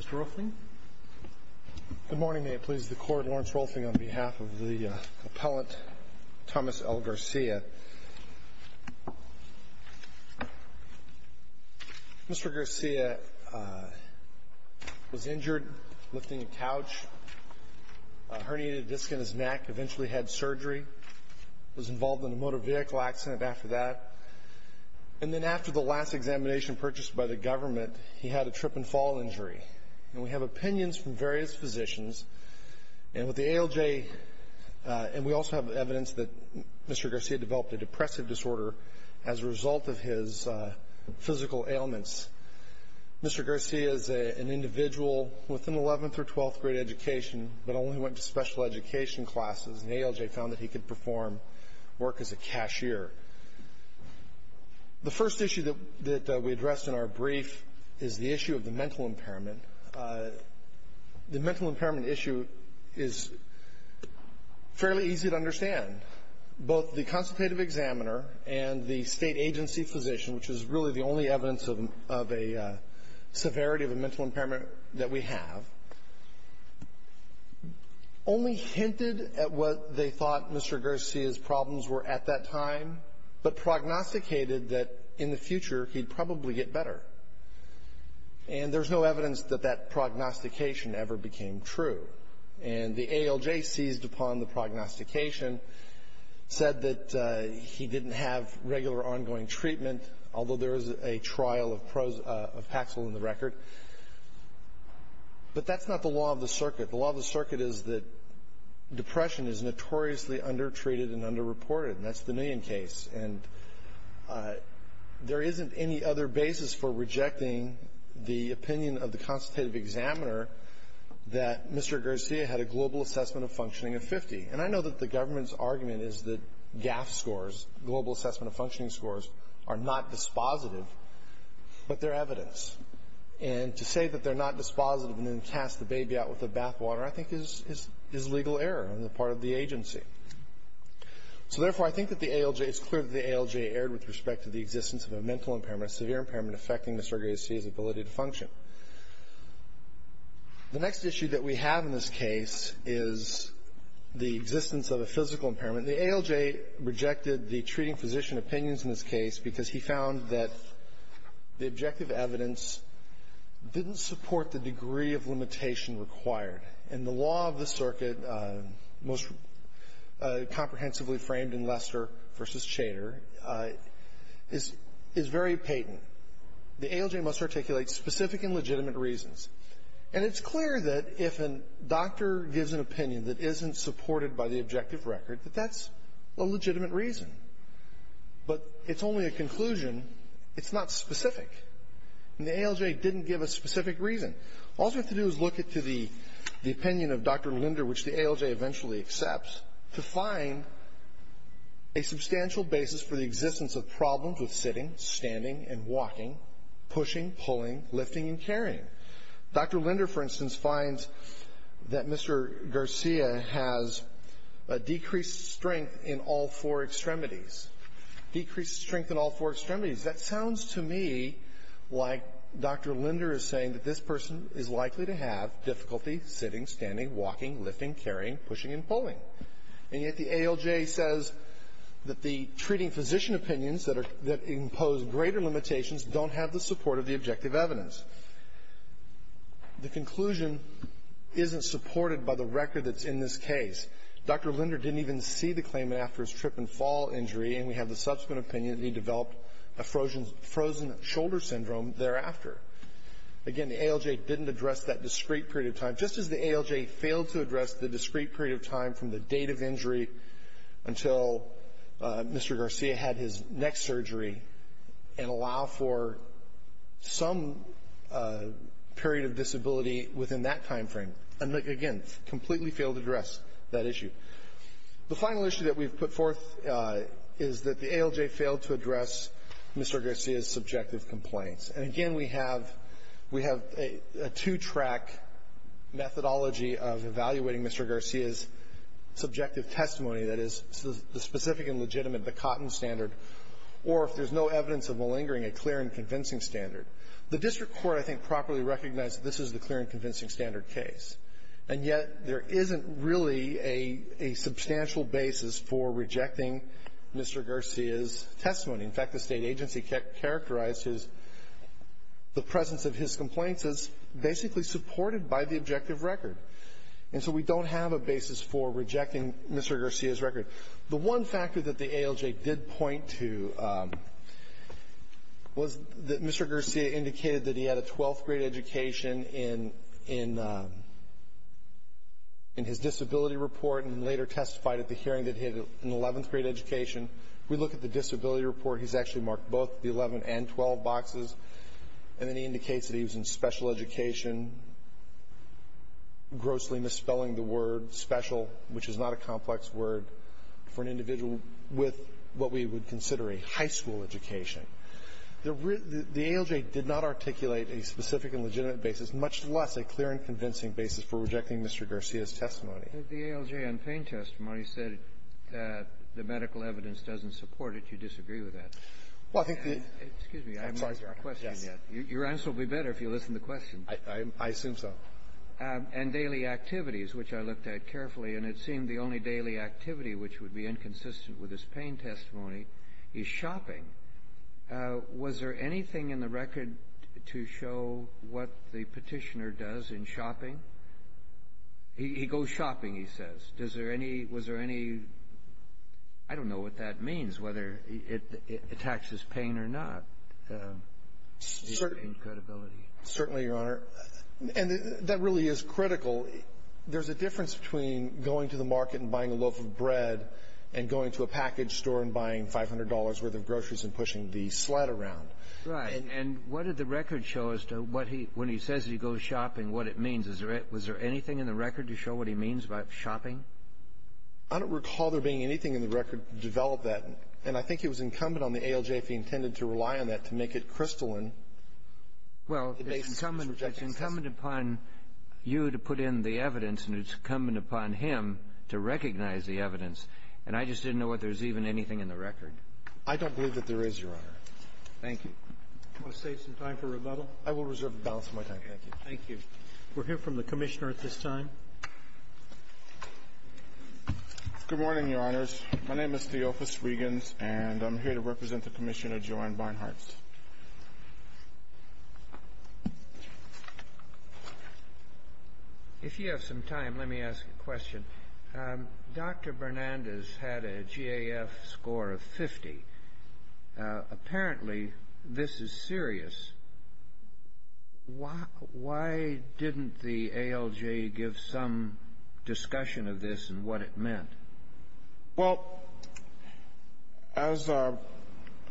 Mr. Rolfing. Good morning, may it please the court. Lawrence Rolfing on behalf of the appellant Thomas L. Garcia. Mr. Garcia was injured lifting a couch, herniated disc in his neck, eventually had surgery, was involved in a motor vehicle accident after that, and then after the last examination purchased by the government, he had a trip and fall injury. And we have opinions from various physicians, and with the ALJ, and we also have evidence that Mr. Garcia developed a depressive disorder as a result of his physical ailments. Mr. Garcia is an individual with an 11th or 12th grade education, but only went to special education classes, and ALJ found that he could perform work as a cashier. The first issue that we addressed in our brief is the issue of the mental impairment. The mental impairment issue is fairly easy to understand. Both the consultative examiner and the State agency physician, which is really the only evidence of a severity of a problems were at that time, but prognosticated that in the future he'd probably get better. And there's no evidence that that prognostication ever became true. And the ALJ seized upon the prognostication, said that he didn't have regular ongoing treatment, although there is a trial of Paxil in the record. But that's not the law of the circuit. The law of the circuit is that that's the million case. And there isn't any other basis for rejecting the opinion of the consultative examiner that Mr. Garcia had a global assessment of functioning of 50. And I know that the government's argument is that GAF scores, global assessment of functioning scores, are not dispositive, but they're evidence. And to say that they're not dispositive and then cast the baby out with the bathwater, I think, is legal error on the part of the agency. So therefore, I think that the ALJ, it's clear that the ALJ erred with respect to the existence of a mental impairment, a severe impairment affecting Mr. Garcia's ability to function. The next issue that we have in this case is the existence of a physical impairment. The ALJ rejected the treating physician opinions in this case because he found that the objective evidence didn't support the degree of limitation required. And the law of the circuit, most comprehensively framed in Lester v. Chater, is very patent. The ALJ must articulate specific and legitimate reasons. And it's clear that if a doctor gives an opinion that isn't supported by the objective record, that that's a legitimate reason. But it's only a conclusion. It's not specific. And the ALJ didn't give a specific reason. All you have to do is look at the opinion of Dr. Linder, which the ALJ eventually accepts, to find a substantial basis for the existence of problems with sitting, standing, and walking, pushing, pulling, lifting, and carrying. Dr. Linder, for instance, finds that Mr. Garcia has a decreased strength in all four extremities. Decreased strength in all four extremities. That sounds to me like Dr. Linder is saying that this person is likely to have difficulty sitting, standing, walking, lifting, carrying, pushing, and pulling. And yet the ALJ says that the treating physician opinions that impose greater limitations don't have the support of the objective evidence. The conclusion isn't supported by the record that's in this case. Dr. Linder didn't even see the claimant after his trip and fall injury, and we have the subsequent opinion that he developed a frozen shoulder syndrome thereafter. Again, the ALJ didn't address that discrete period of time, just as the ALJ failed to address the discrete period of time from the date of injury until Mr. Garcia had his next surgery and allow for some period of disability within that time frame. And again, completely failed to address that issue. The final issue that we've put forth is that the ALJ failed to address Mr. Garcia's subjective complaints. And again, we have a two-track methodology of evaluating Mr. Garcia's subjective testimony that is the specific and legitimate, the Cotton standard, or if there's no evidence of malingering, a clear and convincing standard. The district court, I think, properly recognized that this is the clear and convincing standard case. And yet, there isn't really a substantial basis for rejecting Mr. Garcia's testimony. In fact, the State agency characterized his the presence of his complaints as basically supported by the objective record. And so we don't have a basis for rejecting Mr. Garcia's record. The one factor that the ALJ did point to was that Mr. Garcia indicated that he had a twelfth-grade education in his disability report and later testified at the hearing that he had an eleventh-grade education. If we look at the disability report, he's actually marked both the 11 and 12 boxes. And then he indicates that he was in special education, grossly misspelling the word special, which is not a complex word for an individual with what we would consider a high school education. The ALJ did not articulate a specific and legitimate basis, much less a clear and convincing basis for rejecting Mr. Garcia's testimony. Kennedy. The ALJ on pain testimony said that the medical evidence doesn't support it. You disagree with that. Well, I think the ---- Excuse me. I'm sorry, Your Honor. I'm not questioning that. Your answer will be better if you listen to the question. I assume so. And daily activities, which I looked at carefully, and it seemed the only daily activity which would be inconsistent with his pain testimony is shopping. Was there anything in the record to show what the petitioner does in shopping? He goes shopping, he says. Was there any ---- I don't know what that means, whether it attacks his pain or not. Certainly, Your Honor. And that really is critical. There's a difference between going to the market and buying a loaf of bread and going to a package store and buying $500 worth of groceries and pushing the sled around. Right. And what did the record show as to what he, when he says he goes shopping, what it means? Was there anything in the record to show what he means by shopping? I don't recall there being anything in the record to develop that. And I think it was incumbent on the ALJ, if he intended to rely on that, to make it crystalline. Well, it's incumbent upon you to put in the evidence, and it's incumbent upon him to recognize the evidence. And I just didn't know whether there was even anything in the record. I don't believe that there is, Your Honor. Thank you. Do you want to save some time for rebuttal? I will reserve the balance of my time. Thank you. Thank you. We'll hear from the Commissioner at this time. Good morning, Your Honors. My name is Theophis Regans, and I'm here to represent the Commissioner, Joanne Barnhart. If you have some time, let me ask a question. Dr. Bernandez had a GAF score of 50. Apparently, this is serious. Why didn't the ALJ give some discussion of this and what it meant? Well, as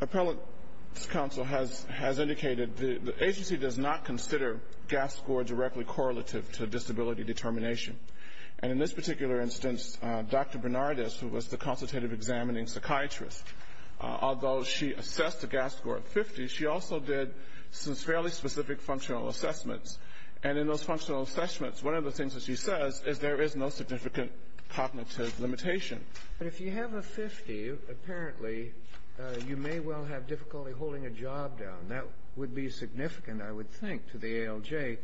Appellate's counsel has indicated, the agency does not consider GAF score directly correlative to disability determination. And in this particular instance, Dr. Bernardez, who was the consultative examining psychiatrist, although she assessed a GAF score of 50, she also did some fairly specific functional assessments. And in those functional assessments, one of the things that she says is there is no significant cognitive limitation. But if you have a 50, apparently, you may well have difficulty holding a job down. That would be significant, I would think, to the ALJ,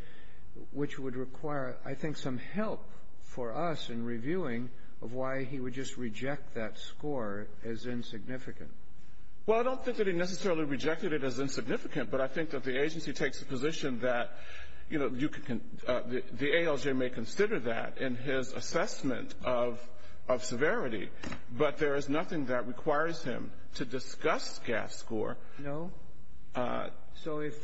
which would require, I think, some help for us in reviewing of why he would just reject that score as insignificant. Well, I don't think that he necessarily rejected it as insignificant, but I think that the agency takes a position that, you know, the ALJ may consider that in his assessment of severity, but there is nothing that requires him to discuss GAF score. No. So if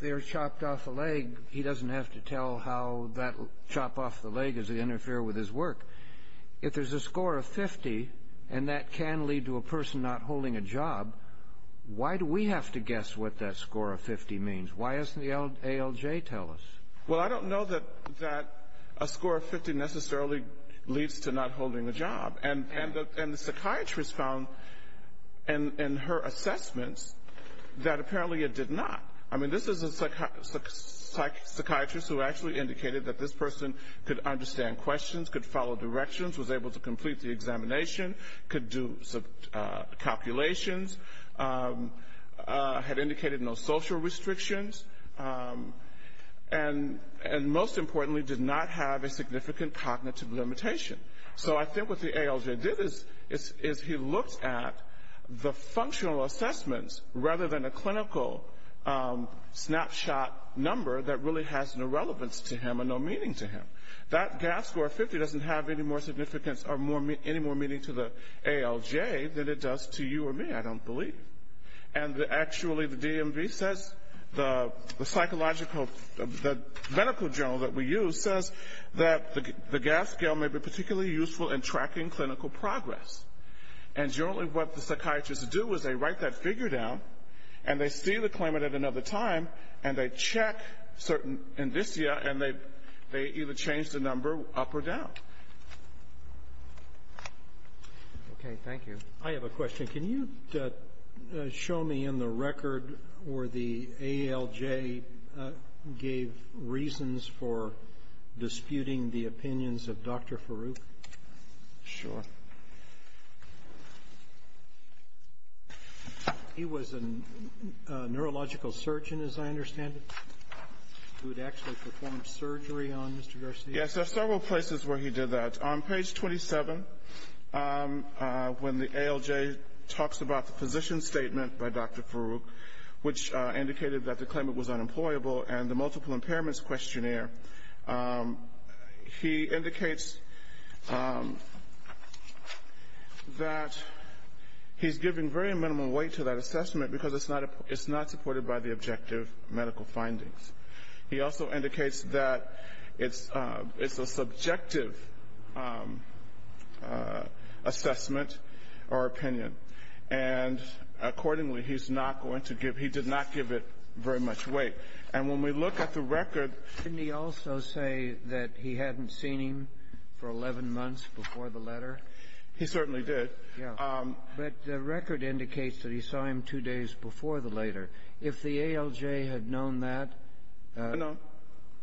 they're chopped off a leg, he doesn't have to tell how that will chop off the leg as they interfere with his work. If there's a score of 50 and that can lead to a person not holding a job, why do we have to guess what that score of 50 means? Why doesn't the ALJ tell us? Well, I don't know that a score of 50 necessarily leads to not holding a job. And the psychiatrist found in her assessments that apparently it did not. I mean, this is a psychiatrist who actually indicated that this person could understand questions, could follow directions, was able to complete the examination, could do calculations, had indicated no social restrictions, and most importantly, did not have a significant cognitive limitation. So I think what the ALJ did is he looked at the functional assessments rather than a clinical snapshot number that really has no relevance to him and no meaning to him. That GAF score of 50 doesn't have any more significance or any more meaning to the ALJ than it does to you or me, I don't believe. And actually the DMV says, the psychological, the medical journal that we use says that the GAF scale may be particularly useful in tracking clinical progress. And generally what the psychiatrists do is they write that figure down and they see the claimant at another time and they check certain indicia and they either change the number up or down. Okay. Thank you. I have a question. Can you show me in the record where the ALJ gave reasons for disputing the opinions of Dr. Farouk? Sure. He was a neurological surgeon, as I understand it, who had actually performed surgery on Mr. Garcia? Yes, there are several places where he did that. On page 27, when the ALJ talks about the physician's statement by Dr. Farouk, which indicated that the claimant was unemployable, and the multiple impairments questionnaire, he indicates that he's giving very minimal weight to that assessment because it's not supported by the objective medical findings. He also indicates that it's a subjective assessment or opinion. And accordingly, he's not going to give, he did not give it very much weight. And when we look at the record Didn't he also say that he hadn't seen him for 11 months before the letter? He certainly did. But the record indicates that he saw him two days before the letter. If the ALJ had known that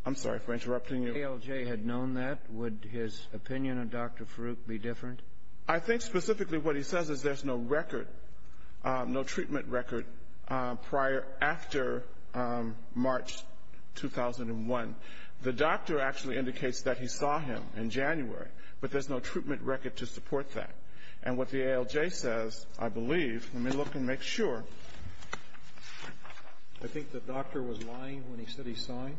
I'm sorry for interrupting you. If the ALJ had known that, would his opinion of Dr. Farouk be different? I think specifically what he says is there's no record, no treatment record, prior, after March 2001. The doctor actually indicates that he saw him in January, but there's no treatment record to support that. And what the ALJ says, I believe, let me look and make sure. I think the doctor was lying when he said he saw him.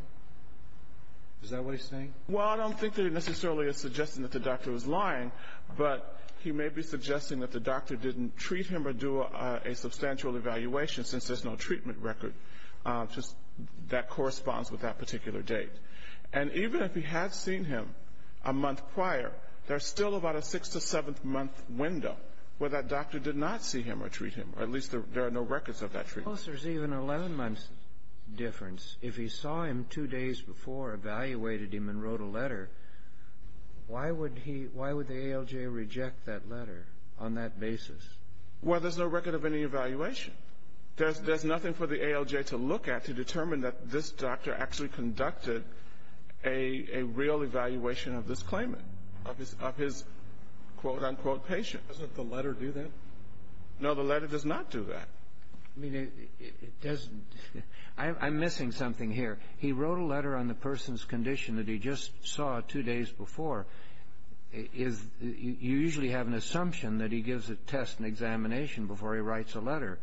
Is that what he's saying? Well, I don't think that he necessarily is suggesting that the doctor was lying, but he may be suggesting that the doctor didn't treat him or do a substantial evaluation since there's no treatment record that corresponds with that particular date. And even if he had seen him a month prior, there's still about a six- to seven-month window where that doctor did not see him or treat him, or at least there are no records of that treatment. Suppose there's even an 11-month difference. If he saw him two days before, evaluated him, and wrote a letter, why would he why would the ALJ reject that letter on that basis? Well, there's no record of any evaluation. There's nothing for the ALJ to look at to determine that this doctor actually conducted a real evaluation of this claimant, of his quote-unquote patient. Doesn't the letter do that? No, the letter does not do that. I mean, it doesn't. I'm missing something here. He wrote a letter on the person's condition that he just saw two days before. You usually have an assumption that he gives a test and examination before he writes a letter.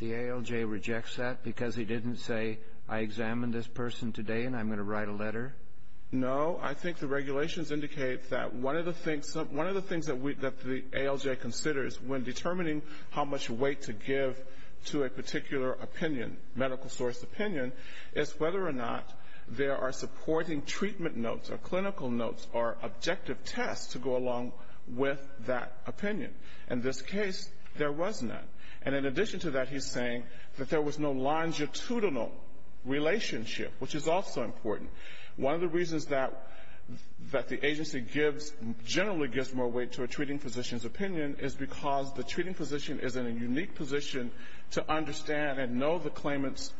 The ALJ rejects that because he didn't say, I examined this person today and I'm going to write a letter? No. I think the regulations indicate that one of the things that the ALJ considers when determining how much weight to give to a particular opinion, medical source opinion, is whether or not there are supporting treatment notes or clinical notes or objective tests to go along with that opinion. In this case, there was none. And in addition to that, he's saying that there was no longitudinal relationship, which is also important. One of the reasons that the agency generally gives more weight to a treating physician's opinion is because the treating physician is in a unique position to understand and know the claimant's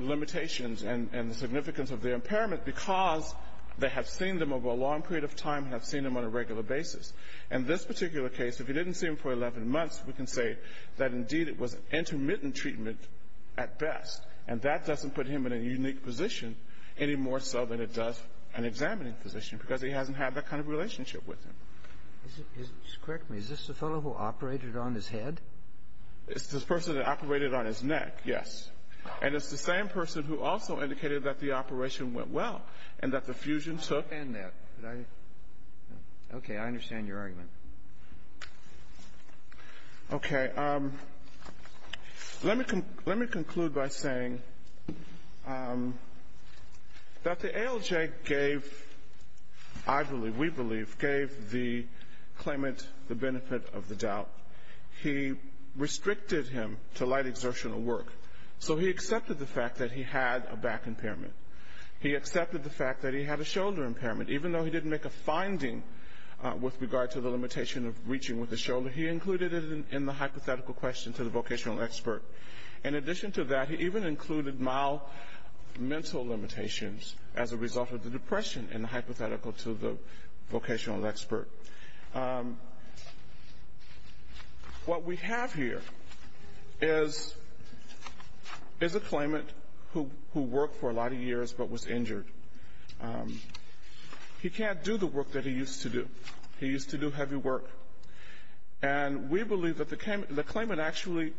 limitations and the significance of their impairment because they have seen them over a long period of time and have seen them on a regular basis. In this particular case, if you didn't see him for 11 months, we can say that, indeed, it was intermittent treatment at best. And that doesn't put him in a unique position any more so than it does an examining physician because he hasn't had that kind of relationship with him. Just correct me. Is this the fellow who operated on his head? It's the person that operated on his neck, yes. And it's the same person who also indicated that the operation went well and that the fusion took Okay. I understand your argument. Okay. Let me conclude by saying that the ALJ gave, I believe, we believe, gave the claimant the benefit of the doubt. He restricted him to light exertional work. So he accepted the fact that he had a back impairment. He accepted the fact that he had a shoulder impairment. Even though he didn't make a finding with regard to the limitation of reaching with his shoulder, he included it in the hypothetical question to the vocational expert. In addition to that, he even included mild mental limitations as a result of the depression in the hypothetical to the vocational expert. What we have here is a claimant who worked for a lot of years but was injured. He can't do the work that he used to do. He used to do heavy work. And we believe that the claimant actually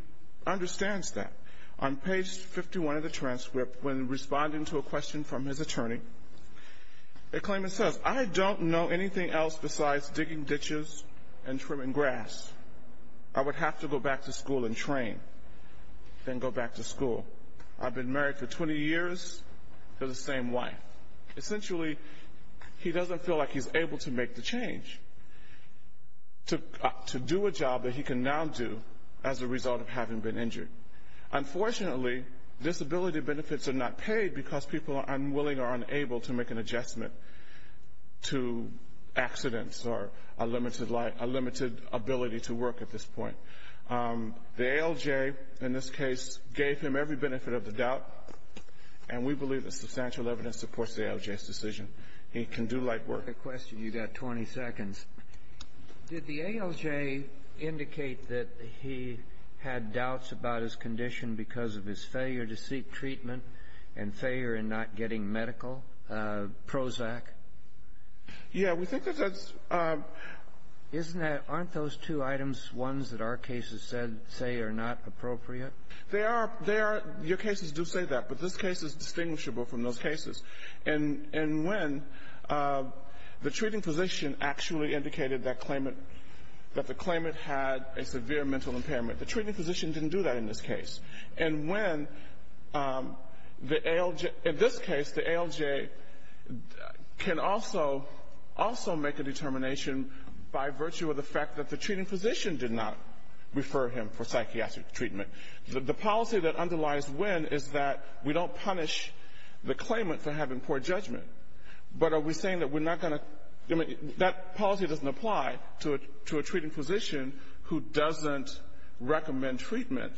understands that. On page 51 of the transcript, when responding to a question from his attorney, the claimant says, If I don't know anything else besides digging ditches and trimming grass, I would have to go back to school and train, then go back to school. I've been married for 20 years to the same wife. Essentially, he doesn't feel like he's able to make the change to do a job that he can now do as a result of having been injured. Unfortunately, disability benefits are not paid because people are unwilling or unable to make an adjustment. To accidents or a limited ability to work at this point. The ALJ, in this case, gave him every benefit of the doubt. And we believe that substantial evidence supports the ALJ's decision. He can do light work. I have a question. You've got 20 seconds. Did the ALJ indicate that he had doubts about his condition because of his failure to seek treatment and failure in not getting medical Prozac? Yeah, we think that that's Isn't that, aren't those two items ones that our cases say are not appropriate? They are. They are. Your cases do say that. But this case is distinguishable from those cases. And when the treating physician actually indicated that claimant, that the claimant had a severe mental impairment, the treating physician didn't do that in this case. And when the ALJ, in this case, the ALJ can also make a determination by virtue of the fact that the treating physician did not refer him for psychiatric treatment. The policy that underlies when is that we don't punish the claimant for having poor judgment. But are we saying that we're not going to, I mean, that policy doesn't apply to a treating physician who doesn't recommend treatment.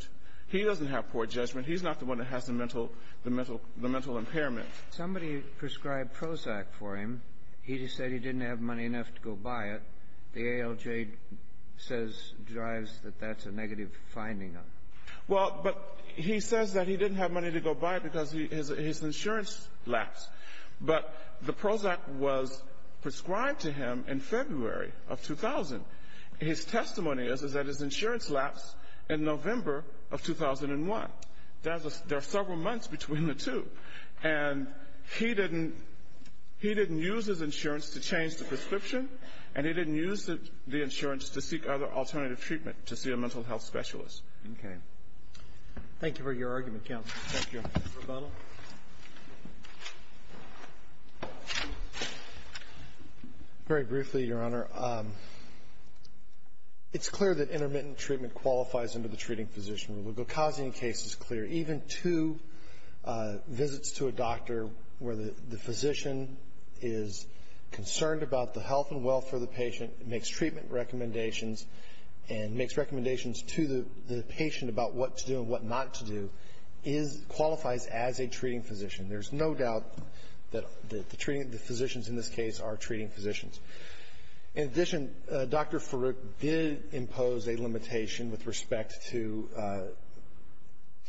He doesn't have poor judgment. He's not the one that has the mental impairment. Somebody prescribed Prozac for him. He just said he didn't have money enough to go buy it. The ALJ says, drives that that's a negative finding. Well, but he says that he didn't have money to go buy it because his insurance lapsed. But the Prozac was prescribed to him in February of 2000. His testimony is that his insurance lapsed in November of 2001. There are several months between the two. And he didn't use his insurance to change the prescription, and he didn't use the insurance to seek other alternative treatment to see a mental health specialist. Okay. Thank you for your argument, counsel. Thank you. Mr. O'Connell. Very briefly, Your Honor. It's clear that intermittent treatment qualifies under the treating physician rule. The Gokazi case is clear. Even two visits to a doctor where the physician is concerned about the health and welfare of the patient, makes treatment recommendations, and makes recommendations to the patient about what to do and what not to do qualifies as a treatment physician. There's no doubt that the physicians in this case are treating physicians. In addition, Dr. Farooq did impose a limitation with respect to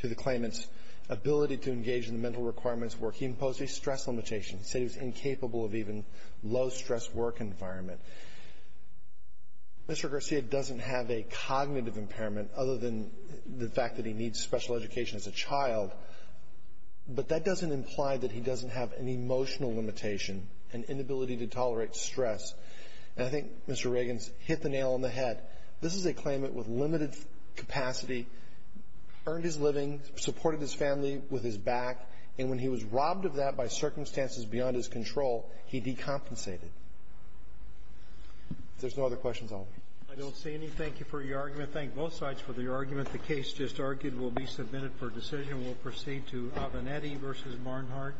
the claimant's ability to engage in the mental requirements work. He imposed a stress limitation. He said he was incapable of even low-stress work environment. Mr. Garcia doesn't have a cognitive impairment other than the fact that he needs special education as a child, but that doesn't imply that he doesn't have an emotional limitation, an inability to tolerate stress. And I think Mr. Riggins hit the nail on the head. This is a claimant with limited capacity, earned his living, supported his family with his back, and when he was robbed of that by circumstances beyond his control, he decompensated. If there's no other questions, I'll leave. I don't see any. Thank you for your argument. Thank both sides for the argument. The case just argued will be submitted for decision. We'll proceed to Avenatti v. Barnhart.